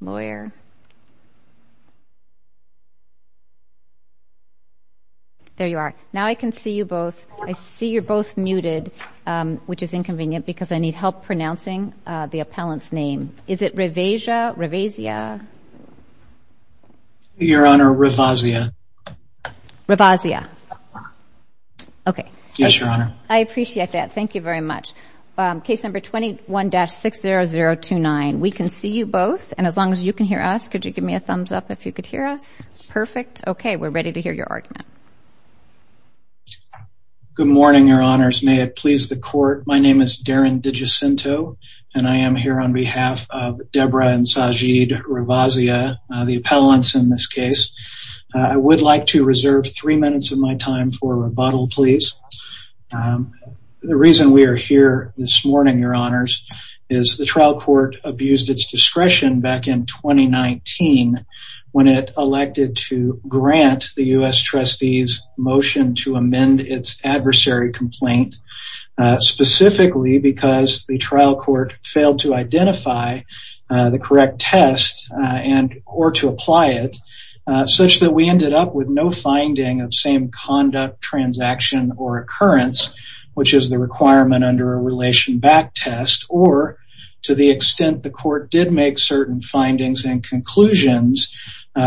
lawyer there you are now I can see you both I see you're both muted which is inconvenient because I need help pronouncing the appellant's name is it Ravasia Ravasia your honor Ravasia Ravasia okay yes your honor I appreciate that thank you very much case number 21-60029 we can see you both and as long as you can hear us could you give me a thumbs up if you could hear us perfect okay we're ready to hear your argument good morning your honors may it please the court my name is Darren Digicento and I am here on behalf of Deborah and Sajid Ravasia the appellants in this case I would like to reserve three minutes of my time for rebuttal please the reason we are here this morning your honors is the trial court abused its discretion back in 2019 when it elected to grant the US trustees motion to amend its adversary complaint specifically because the trial court failed to identify the correct test and or to apply it such that we ended up with no finding of same conduct transaction or occurrence which is the requirement under a relation back test or to the extent the court did make certain findings and conclusions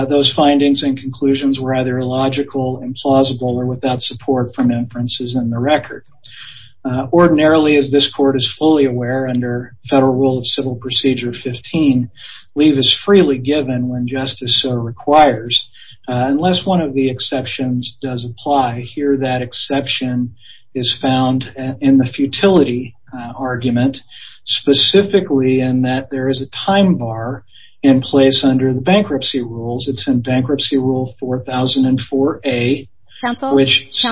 those findings and conclusions were either illogical implausible or without support from inferences in the record ordinarily as this court is fully aware under Federal Rule of Civil Procedure 15 leave is freely given when justice so requires unless one of the exceptions does apply here that exception is found in the futility argument specifically and that there is a time bar in place under the bankruptcy rules it's in bankruptcy rule 4004 a counsel which if I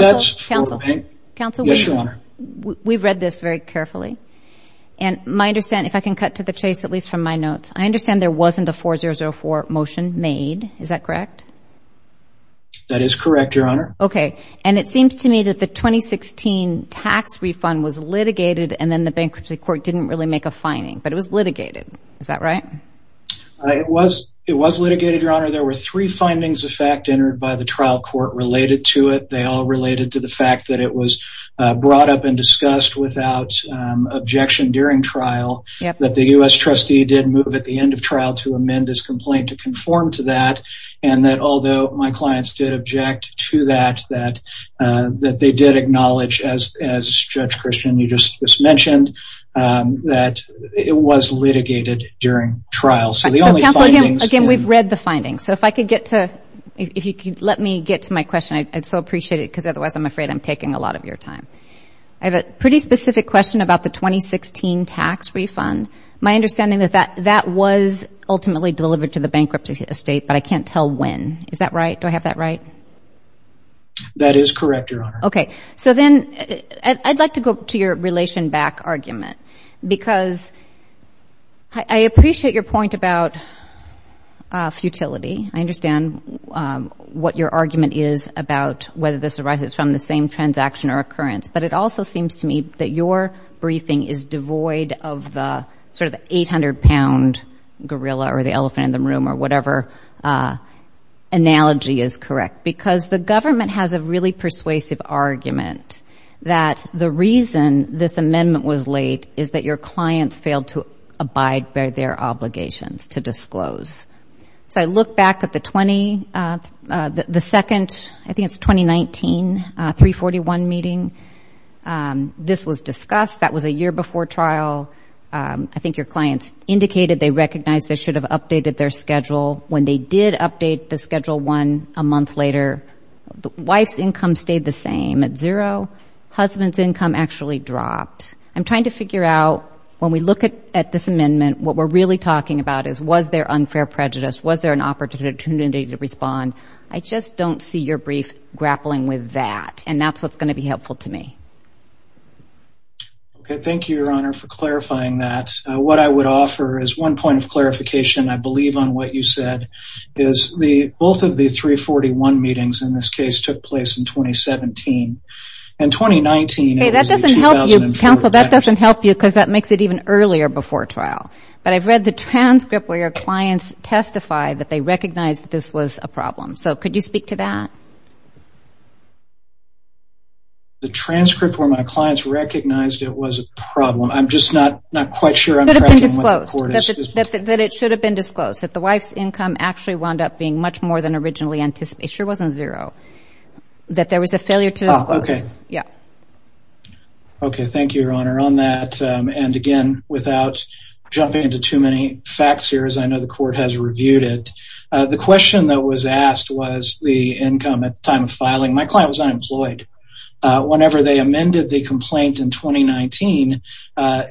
can cut to the chase at least from my notes I understand there wasn't a 4004 motion made is that correct that is correct your honor okay and it seems to me that the 2016 tax refund was litigated and then the bankruptcy court didn't really make a finding but it was litigated is that right it was it was litigated your honor there were three findings of fact entered by the trial court related to it they all related to the fact that it was brought up and trial that the US trustee did move at the end of trial to amend his complaint to conform to that and that although my clients did object to that that that they did acknowledge as as judge Christian you just mentioned that it was litigated during trial so the only again we've read the findings so if I could get to if you could let me get to my question I'd so appreciate it because otherwise I'm afraid I'm taking a lot of your time I have a pretty specific question about the 2016 tax refund my understanding that that that was ultimately delivered to the bankruptcy estate but I can't tell when is that right do I have that right that is correct your honor okay so then I'd like to go to your relation back argument because I appreciate your point about futility I understand what your argument is about whether this arises from the same transaction or occurrence but it also seems to me that your briefing is devoid of the sort of the 800-pound gorilla or the elephant in the room or whatever analogy is correct because the government has a really persuasive argument that the reason this amendment was late is that your clients failed to abide by their obligations to disclose so I look back at the 20 the second I 341 meeting this was discussed that was a year before trial I think your clients indicated they recognized they should have updated their schedule when they did update the schedule one a month later the wife's income stayed the same at zero husband's income actually dropped I'm trying to figure out when we look at at this amendment what we're really talking about is was there unfair prejudice was there an opportunity to respond I just don't see your brief grappling with that and that's what's going to be helpful to me thank you your honor for clarifying that what I would offer is one point of clarification I believe on what you said is the both of the 341 meetings in this case took place in 2017 and 2019 that doesn't help you counsel that doesn't help you because that makes it even earlier before trial but I've read the transcript where your clients testify that they recognize that this was a the transcript where my clients recognized it was a problem I'm just not not quite sure I'm sure that it should have been disclosed that the wife's income actually wound up being much more than originally anticipated wasn't zero that there was a failure to okay yeah okay thank you your honor on that and again without jumping into too many facts here as I know the court has income at the time of filing my client was unemployed whenever they amended the complaint in 2019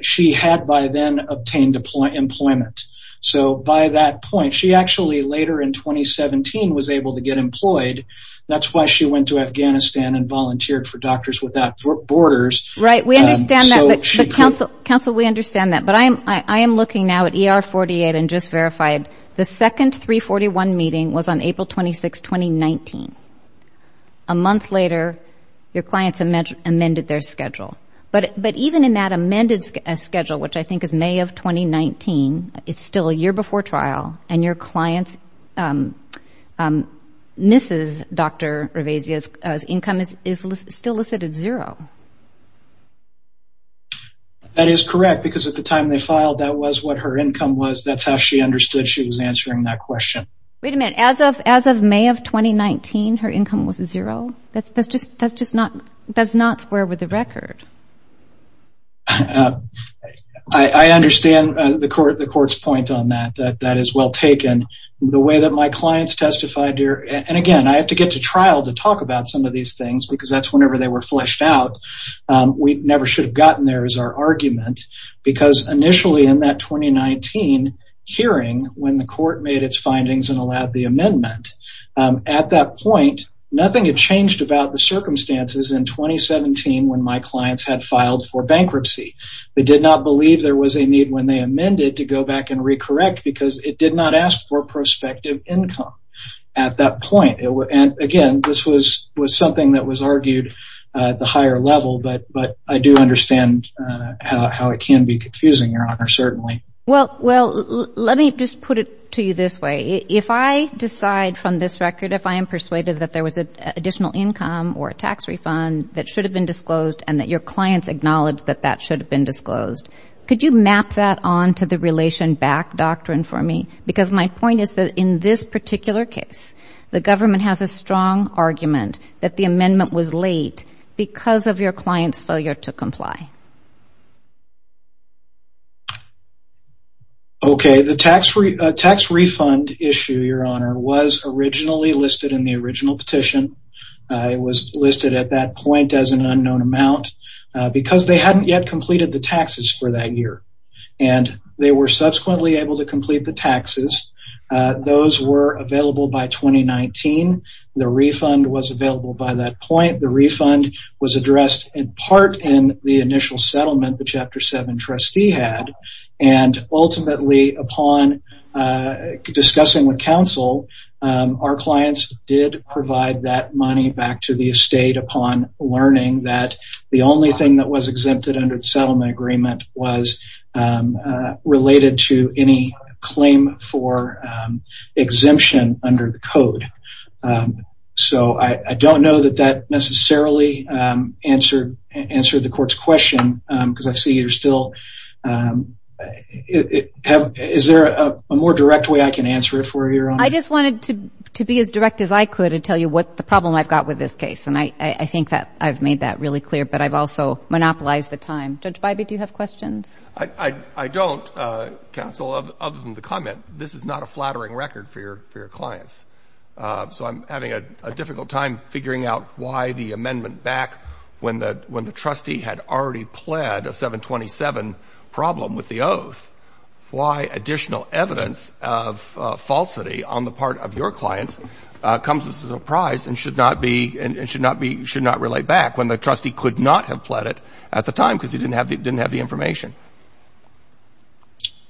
she had by then obtained deployment employment so by that point she actually later in 2017 was able to get employed that's why she went to Afghanistan and volunteered for doctors without borders right we understand that but she counsel counsel we understand that but I am I am looking now at er 48 and just verified the second 341 meeting was on April 26 2019 a month later your clients have met amended their schedule but but even in that amended schedule which I think is May of 2019 it's still a year before trial and your clients mrs. dr. Ravezia's income is still listed at zero that is correct because at the time they filed that was what her income was that's how she understood she was answering that question wait a minute as of as of May of 2019 her income was a zero that's just that's just not does not square with the record I understand the court the court's point on that that that is well taken the way that my clients testified here and again I have to get to trial to talk about some of these things because that's whenever they were because initially in that 2019 hearing when the court made its findings and allowed the amendment at that point nothing had changed about the circumstances in 2017 when my clients had filed for bankruptcy they did not believe there was a need when they amended to go back and recorrect because it did not ask for prospective income at that point and again this was was argued at the higher level but but I do understand how it can be confusing your honor certainly well well let me just put it to you this way if I decide from this record if I am persuaded that there was a additional income or a tax refund that should have been disclosed and that your clients acknowledge that that should have been disclosed could you map that on to the relation back doctrine for me because my point is that in this particular case the government has a was late because of your clients failure to comply okay the tax free tax refund issue your honor was originally listed in the original petition it was listed at that point as an unknown amount because they hadn't yet completed the taxes for that year and they were subsequently able to complete the taxes those were available by 2019 the refund was available by that point the refund was addressed in part in the initial settlement the chapter seven trustee had and ultimately upon discussing with counsel our clients did provide that money back to the estate upon learning that the only thing that was exempted under the settlement agreement was related to any claim for the code so I don't know that that necessarily answered answer the court's question because I see you're still is there a more direct way I can answer it for you I just wanted to be as direct as I could and tell you what the problem I've got with this case and I think that I've made that really clear but I've also monopolized the time judge by be do you have questions I I don't counsel of them to comment this is not a flattering record for your clients so I'm having a difficult time figuring out why the amendment back when that when the trustee had already pled a 727 problem with the oath why additional evidence of falsity on the part of your clients comes as a surprise and should not be and it should not be should not relate back when the trustee could not have pled it at the time because he didn't have it didn't have the information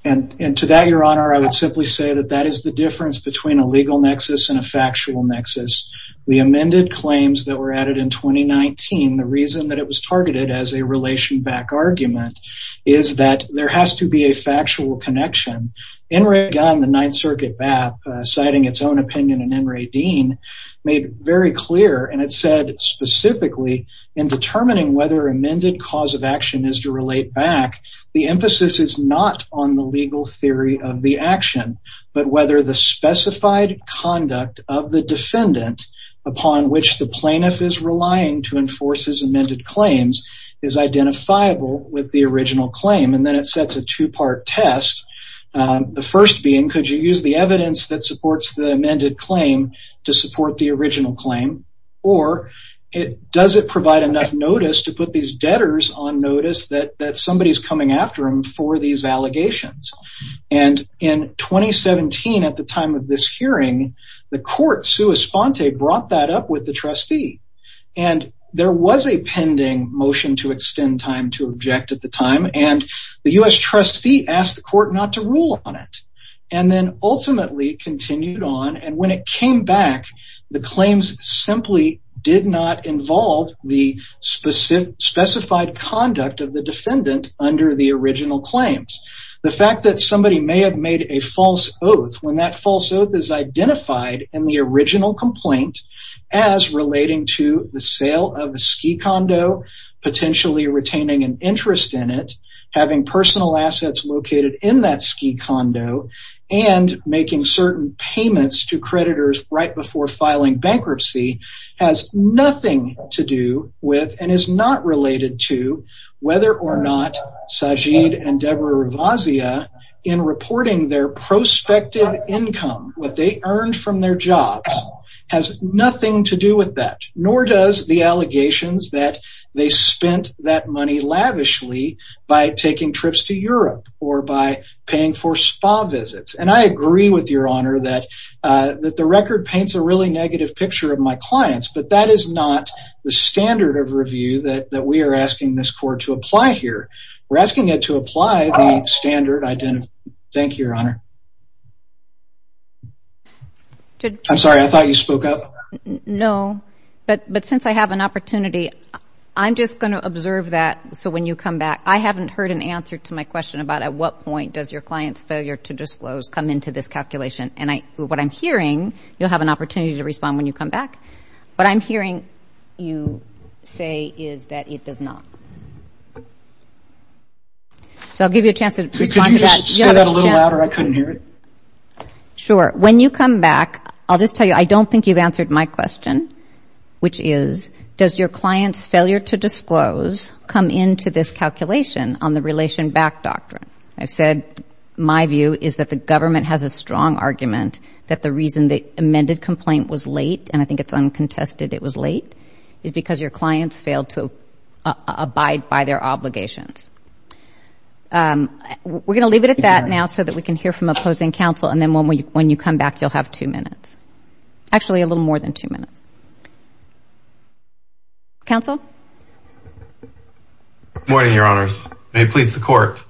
and and to that your honor I would simply say that that is the difference between a legal nexus and a factual nexus we amended claims that were added in 2019 the reason that it was targeted as a relation back argument is that there has to be a factual connection in Ray gun the Ninth Circuit BAP citing its own opinion and in Ray Dean made very clear and it said specifically in determining whether amended cause of action is to relate back the emphasis is not on the legal theory of the action but whether the specified conduct of the defendant upon which the plaintiff is relying to enforce his amended claims is identifiable with the original claim and then it sets a two-part test the first being could you use the evidence that supports the amended claim to support the original claim or it doesn't provide enough notice to put these debtors on notice that that somebody's coming after him for these allegations and in 2017 at the time of this hearing the court sua sponte brought that up with the trustee and there was a pending motion to extend time to object at the time and the u.s. trustee asked the court not to rule on it and then ultimately continued on and when it came back the claims simply did not involve the specific specified conduct of the defendant under the original claims the fact that somebody may have made a false oath when that false oath is identified in the original complaint as relating to the sale of a ski condo potentially retaining an interest in it having personal assets located in that ski condo and making certain payments to bankruptcy has nothing to do with and is not related to whether or not Sajid and Debra Ravazia in reporting their prospective income what they earned from their job has nothing to do with that nor does the allegations that they spent that money lavishly by taking trips to Europe or by paying for spa visits and I agree with your honor that that the record paints a really negative picture of my clients but that is not the standard of review that that we are asking this court to apply here we're asking it to apply the standard identity thank you your honor I'm sorry I thought you spoke up no but but since I have an opportunity I'm just going to observe that so when you come back I haven't heard an answer to my question about at what point does your clients failure to disclose come into this calculation and I what I'm hearing you'll have an opportunity to respond when you come back but I'm hearing you say is that it does not so I'll give you a chance to respond to that sure when you come back I'll just tell you I don't think you've answered my question which is does your clients failure to disclose come into this calculation on the relation back doctrine I've said my view is that the government has a strong argument that the reason the amended complaint was late and I think it's uncontested it was late is because your clients failed to abide by their obligations we're going to leave it at that now so that we can hear from opposing counsel and then when we when you come back you'll have two minutes actually a little more than two minutes counsel morning your honors may please the court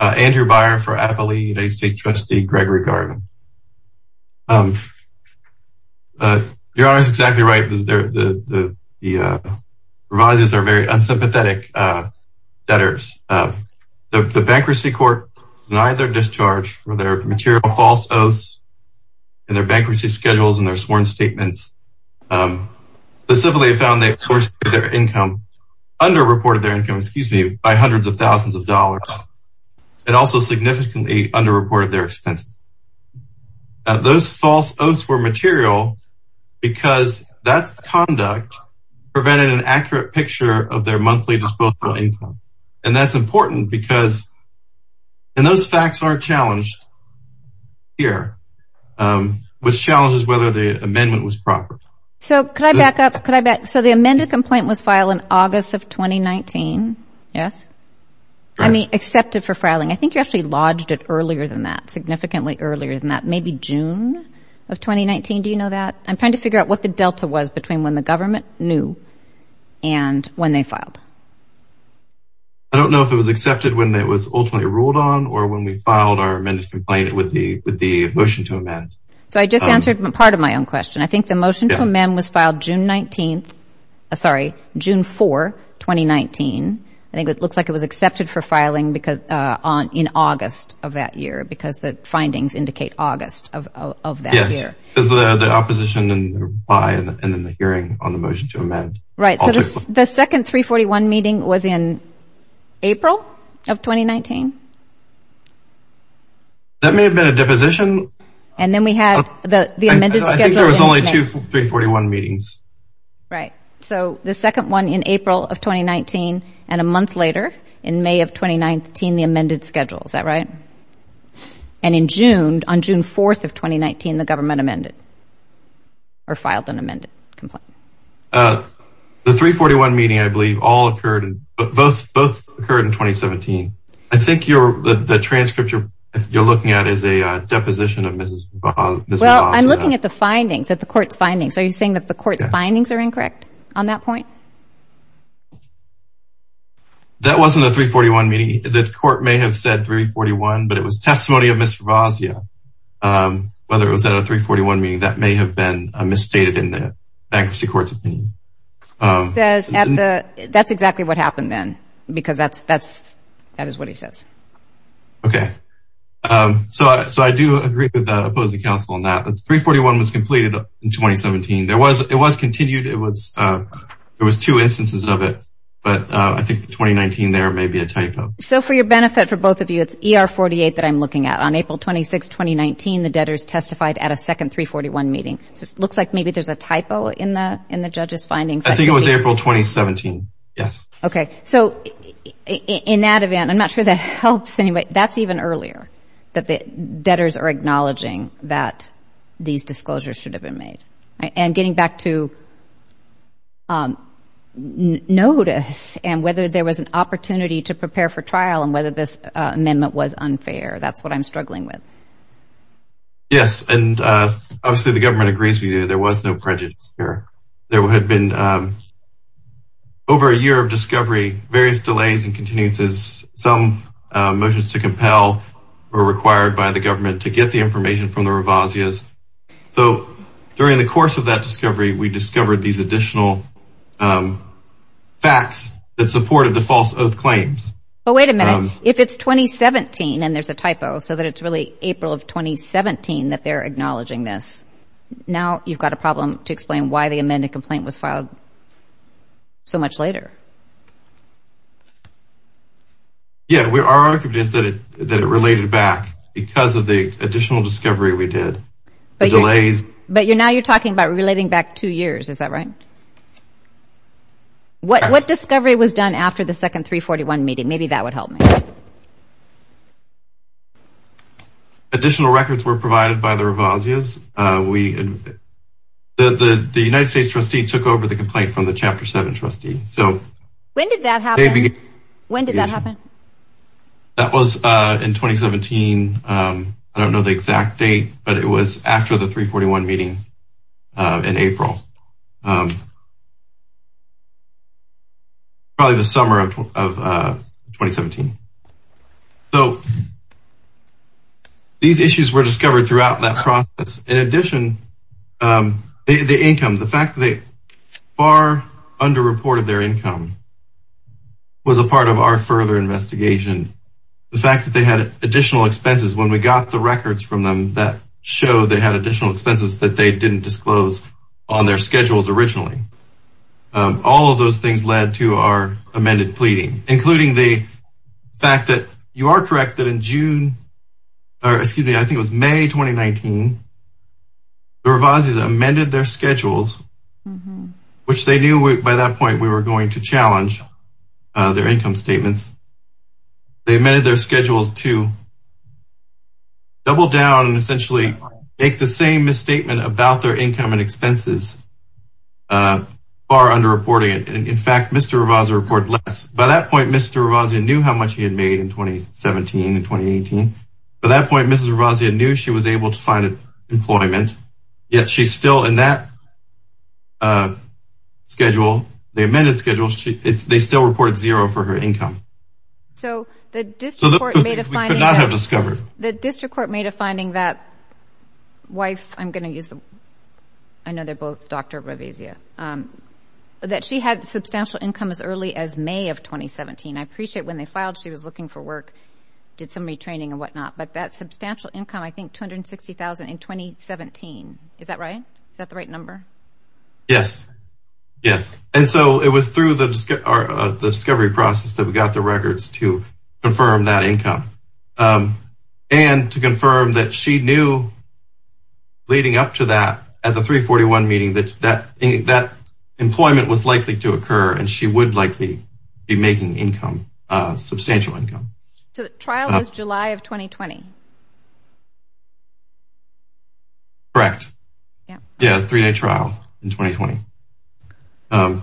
Andrew Byron for Appalachian United States trustee Gregory Garvin your honor is exactly right the rises are very unsympathetic debtors the bankruptcy court denied their discharge for their material false oaths and their bankruptcy schedules and their sworn statements the civilly found they source their income under reported their income excuse me by hundreds of thousands of dollars and also significantly under reported their expenses those false oaths were material because that's conduct prevented an accurate picture of their monthly disposable income and that's important because and those facts are challenged here which challenges whether the amendment was proper so could I back up could I bet so the amended complaint was filed in August of 2019 yes I mean accepted for filing I earlier than that significantly earlier than that maybe June of 2019 do you know that I'm trying to figure out what the Delta was between when the government knew and when they filed I don't know if it was accepted when it was ultimately ruled on or when we filed our amended complaint with the with the motion to amend so I just answered part of my own question I think the motion to amend was filed June 19th sorry June 4 2019 I think it looks like it was accepted for that year because the findings indicate August of that year is the the opposition and by and then the hearing on the motion to amend right the second 341 meeting was in April of 2019 that may have been a deposition and then we had the the amended I think there was only two 341 meetings right so the second one in April of 2019 and a month later in May of 2019 the amended schedule is that right and in June on June 4th of 2019 the government amended or filed an amended complaint the 341 meeting I believe all occurred both both occurred in 2017 I think you're the transcript you're looking at is a deposition of mrs. well I'm looking at the findings that the court's findings are you saying that the court's findings are incorrect on that point that wasn't a 341 meeting the court may have said 341 but it was testimony of mr. Bosnia whether it was at a 341 meeting that may have been a misstated in the bankruptcy courts opinion that's exactly what happened then because that's that's that is what he says okay so so I do agree with the opposing counsel on that that 341 was completed in 2017 there was it was continued it was there was two so for your benefit for both of you it's er 48 that I'm looking at on April 26 2019 the debtors testified at a second 341 meeting just looks like maybe there's a typo in the in the judges findings I think it was April 2017 yes okay so in that event I'm not sure that helps anyway that's even earlier that the debtors are acknowledging that these disclosures should have been made and getting back to notice and whether there was an opportunity to prepare for trial and whether this amendment was unfair that's what I'm struggling with yes and obviously the government agrees with you there was no prejudice here there had been over a year of discovery various delays and continuances some motions to compel were required by the government to get the information from the Revazia's so during the course of that discovery we discovered these additional facts that supported the false of claims oh wait a minute if it's 2017 and there's a typo so that it's really April of 2017 that they're acknowledging this now you've got a problem to explain why the amended complaint was filed so much later yeah we are convinced that it that it related back because of the additional discovery we did delays but you're now you're talking about relating back two years is that right what what discovery was done after the second 341 meeting maybe that would help me additional records were provided by the Revazia's we the the United States trustee took over the complaint from the chapter 7 trustee so when did that happen when did that that was in 2017 I don't know the exact date but it was after the 341 meeting in April probably the summer of 2017 so these issues were discovered throughout that process in addition the income the fact that far under reported their income was a part of our further investigation the fact that they had additional expenses when we got the records from them that show they had additional expenses that they didn't disclose on their schedules originally all of those things led to our amended pleading including the fact that you are correct that in June or excuse me I think it was May 2019 the Revazia's amended their schedules which they knew by that point we were going to challenge their income statements they amended their schedules to double down and essentially make the same misstatement about their income and expenses far under reporting it and in fact mr. Ravazia report less by that point mr. Ravazia knew how much he had made in 2017 and 2018 at that point mrs. Ravazia knew she was able to find employment yet she's still in that schedule they amended schedules they still reported zero for her income so the district court made a finding that wife I'm gonna use them I know they're both dr. Ravazia that she had substantial income as early as May of 2017 I appreciate when they filed she was looking for work did some retraining and whatnot but that substantial income I think 260,000 in 2017 is that right is that the right number yes yes and so it was through the discovery process that we got the records to confirm that income and to confirm that she knew leading up to that at the 341 meeting that that that employment was likely to occur and she would likely be making income substantial income July of 2020 correct yeah three-day trial in 2020 all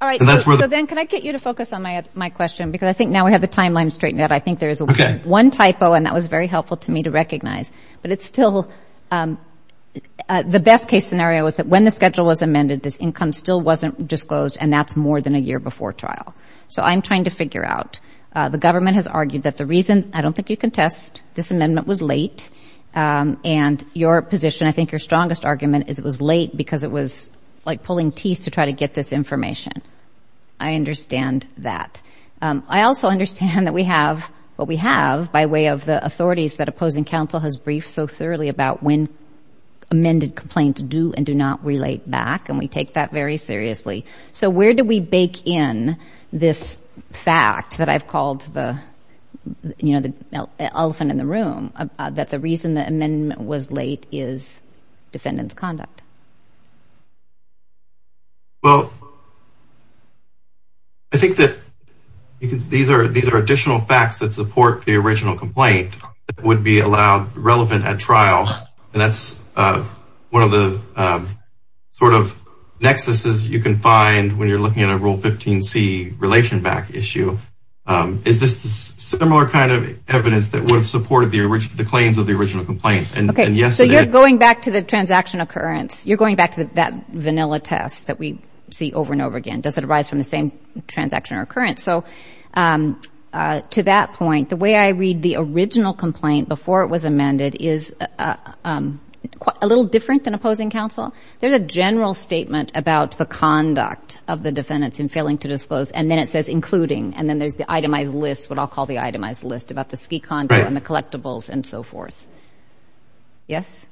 right that's where then can I get you to focus on my my question because I think now we have the timeline straightened out I think there's a one typo and that was very helpful to me to recognize but it's still the best case scenario is that when the schedule was amended this income still wasn't disclosed and that's more than a year before trial so I'm trying to figure out the government has argued that the reason I don't think you can test this amendment was late and your position I think your strongest argument is it was late because it was like pulling teeth to try to get this information I understand that I also understand that we have what we have by way of the authorities that opposing counsel has briefed so thoroughly about when amended complaints do and do not relate back and we take that very seriously so where do we bake in this fact that I've called the you know the elephant in the room that the reason that amendment was late is defendants conduct well I think that because these are these are additional facts that support the original complaint would be allowed relevant at trials and that's one of the sort of nexus is you can find when you're looking at a rule 15c relation back issue is this similar kind of evidence that would support the original the claims of the original complaint and yes so you're going back to the transaction occurrence you're going back to that vanilla test that we see over and over again does it arise from the same transaction or occurrence so to that point the way I read the original complaint before it was amended is a little different than opposing counsel there's a general statement about the conduct of the defendants in failing to disclose and then it says including and then there's the itemized list what I'll call the itemized list about the ski con and the collectibles and so forth yes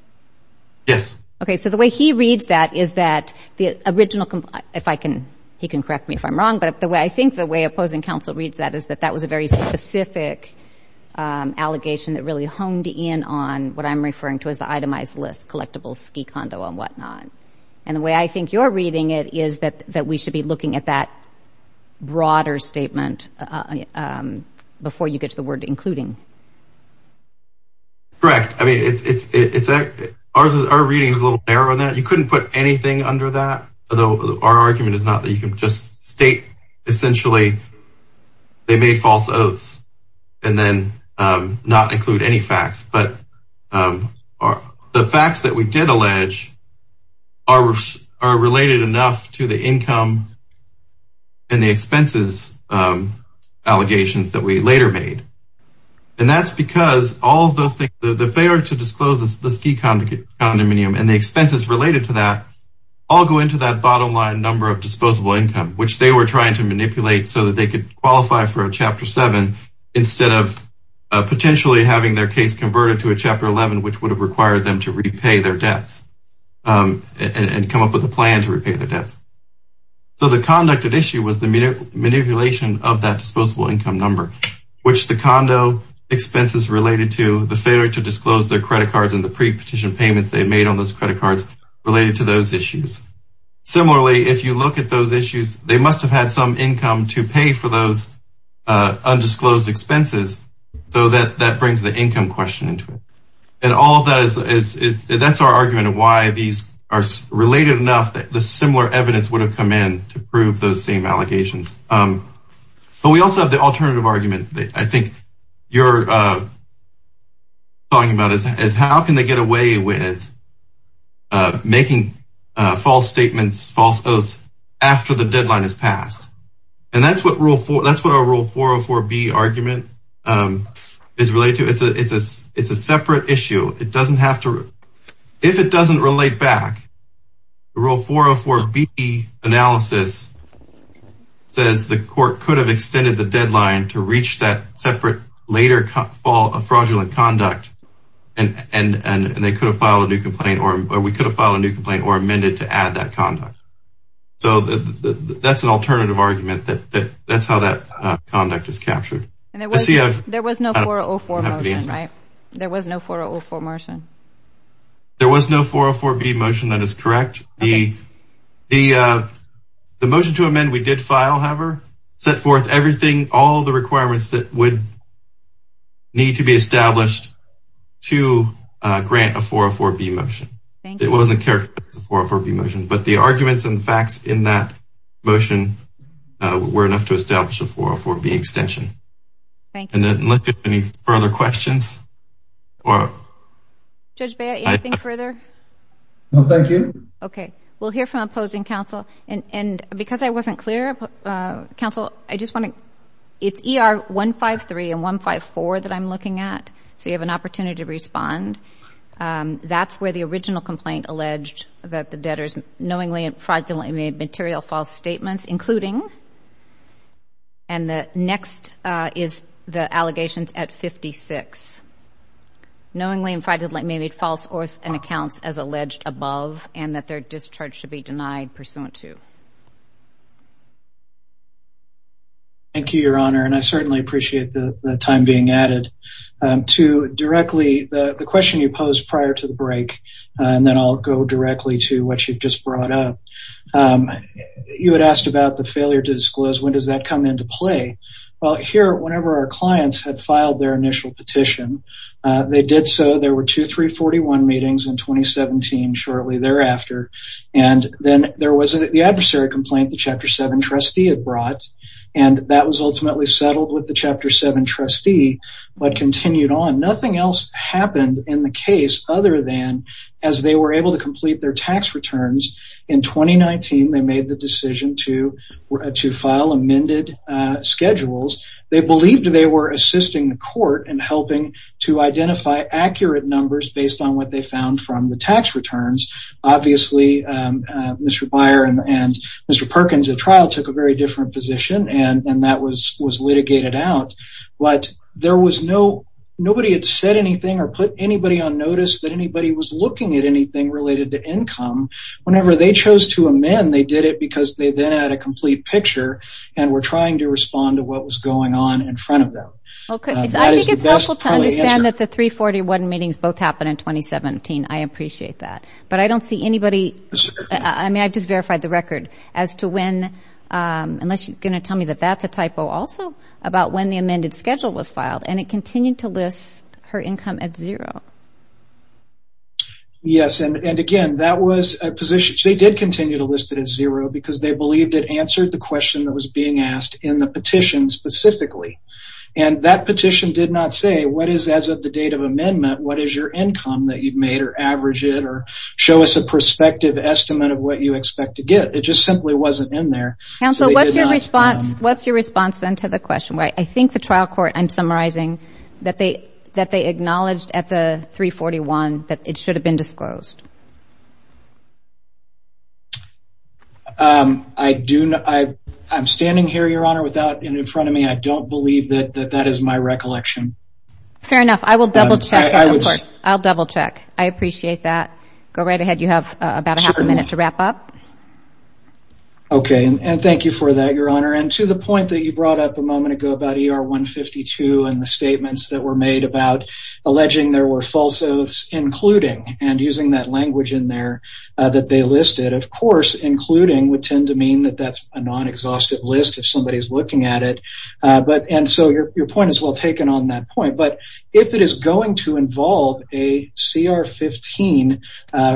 yes okay so the way he reads that is that the original complaint if I can he can correct me if I'm wrong but the way I think the way opposing counsel reads that is that that was a very specific allegation that really honed in on what I'm referring to as the itemized list collectibles ski condo and whatnot and the way I think you're reading it is that that we should be looking at that broader statement before you get to the word including correct I mean it's it's a ours is our reading is a little error on that you couldn't put anything under that although our argument is not that you can just state essentially they made false oaths and then not include any facts but are the facts that we did allege our roofs are related enough to the income and the expenses allegations that we later made and that's because all of those things that they are to disclose this the ski condominium and the expenses related to that all go into that bottom line number of disposable income which they were trying to manipulate so that they could qualify for a chapter 7 instead of potentially having their case converted to a chapter 11 which would have required them to repay their debts and come up with a plan to repay their debts so the conduct of issue was the manipulation of that disposable income number which the condo expenses related to the failure to disclose their credit cards and the pre-petition payments they've made on those credit cards related to those issues similarly if you look at those issues they must have had some income to pay for those undisclosed expenses though that that brings the income question into it and all that is that's our argument of why these are related enough that the similar evidence would have come in to prove those same allegations but we also have the alternative argument that I think you're talking about is how can they get away with making false statements false oaths after the deadline is passed and that's what rule 4 that's what our rule 404 B argument is related to it's a it's a it's a separate issue it doesn't have to if it doesn't relate back the rule 404 B analysis says the court could have a fraudulent conduct and and and they could have filed a new complaint or we could have filed a new complaint or amended to add that conduct so that's an alternative argument that that's how that conduct is captured and there was yeah there was no 404 motion right there was no 404 motion there was no 404 B motion that is correct the the the motion to amend we did file however set forth everything all the requirements that would need to be established to grant a 404 B motion it wasn't care for 404 B motion but the arguments and the facts in that motion were enough to establish a 404 B extension and then let's get any further questions or judge bear anything further no thank you okay we'll hear from opposing counsel and and because I wasn't clear council I just want to it's er 153 and 154 that I'm looking at so you have an opportunity to respond that's where the original complaint alleged that the debtors knowingly and fraudulently made material false statements including and the next is the allegations at 56 knowingly and fraudulently made false or and accounts as alleged above and that their discharge should be denied pursuant to thank you your honor and I certainly appreciate the time being added to directly the question you posed prior to the break and then I'll go directly to what you've just brought up you had asked about the failure to disclose when does that come into play well here whenever our clients had filed their initial petition they did so there were two 341 meetings in 2017 shortly thereafter and then there was the adversary complaint the chapter 7 trustee had brought and that was ultimately settled with the chapter 7 trustee but continued on nothing else happened in the case other than as they were able to complete their tax returns in 2019 they made the decision to to file amended schedules they believed they were assisting the court and helping to identify accurate numbers based on what they found from the tax returns obviously Mr. Byer and Mr. Perkins a trial took a very different position and and that was was litigated out but there was no nobody had said anything or put anybody on notice that anybody was looking at anything related to income whenever they chose to amend they did it because they then had a complete picture and we're trying to respond to what was going on in front of them okay I think it's best to understand that the 341 meetings both happened in 2017 I appreciate that but I don't see anybody I mean I just verified the record as to when unless you're going to tell me that that's a typo also about when the amended schedule was filed and it continued to list her income at zero yes and and again that was a position she did continue to list it as zero because they believed it answered the question that was being asked in the petition specifically and that petition did not say what is as of the date of amendment what is your income that you've made or average it or show us a perspective estimate of what you expect to get it just simply wasn't in there and so what's your response what's your response then to the question right I think the trial court I'm summarizing that they that they acknowledged at the 341 that it should have been disclosed I do know I I'm standing here your honor without in in front of me I don't believe that that is my recollection fair enough I will double check I'll double check I appreciate that go right ahead you have about a half a minute to wrap up okay and thank you for that your honor and to the point that you brought up a moment ago about er 152 and the statements that were made about alleging there were false oaths including and using that language in there that they listed of course including would tend to mean that that's a non exhaustive list if somebody's looking at it but and so your point is well taken on that point but if it is going to involve a cr-15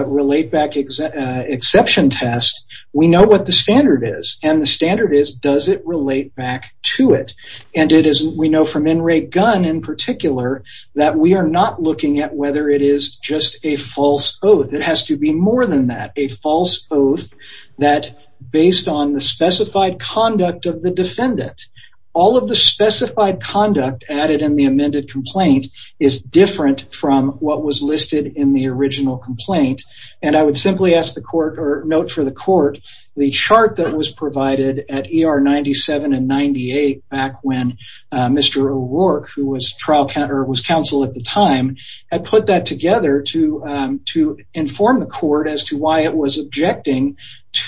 relate back exact exception test we know what the standard is and the standard is does it relate back to it and it isn't we know from in Ray gun in particular that we are not looking at whether it is just a false oath it has to be more than that a false oath that based on the conduct of the defendant all of the specified conduct added in the amended complaint is different from what was listed in the original complaint and I would simply ask the court or note for the court the chart that was provided at er 97 and 98 back when mr. O'Rourke who was trial counter was counsel at the time I put that together to to inform the court as to why it was objecting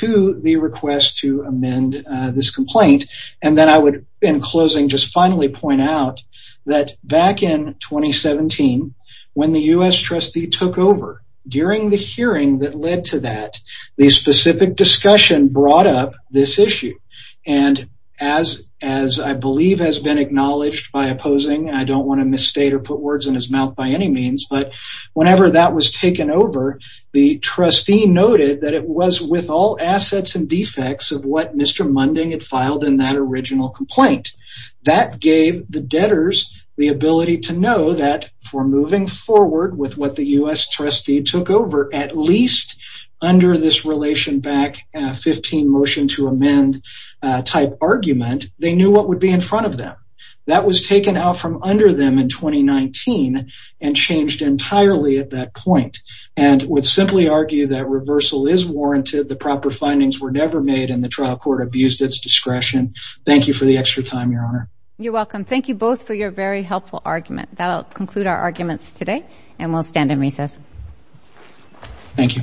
to the request to amend this complaint and then I would in closing just finally point out that back in 2017 when the US trustee took over during the hearing that led to that the specific discussion brought up this issue and as as I believe has been acknowledged by opposing I don't want to misstate or put words in his mouth by any means but whenever that was taken over the trustee noted that it was with all assets and defects of what mr. Munding had filed in that original complaint that gave the debtors the ability to know that for moving forward with what the US trustee took over at least under this relation back 15 motion to amend type argument they knew what would be in front of them that was taken out from under them in 2019 and changed entirely at that point and would simply argue that reversal is warranted the proper findings were never made in the trial court abused its discretion thank you for the extra time your honor you're welcome thank you both for your very helpful argument that'll conclude our arguments today and we'll stand in recess thank you you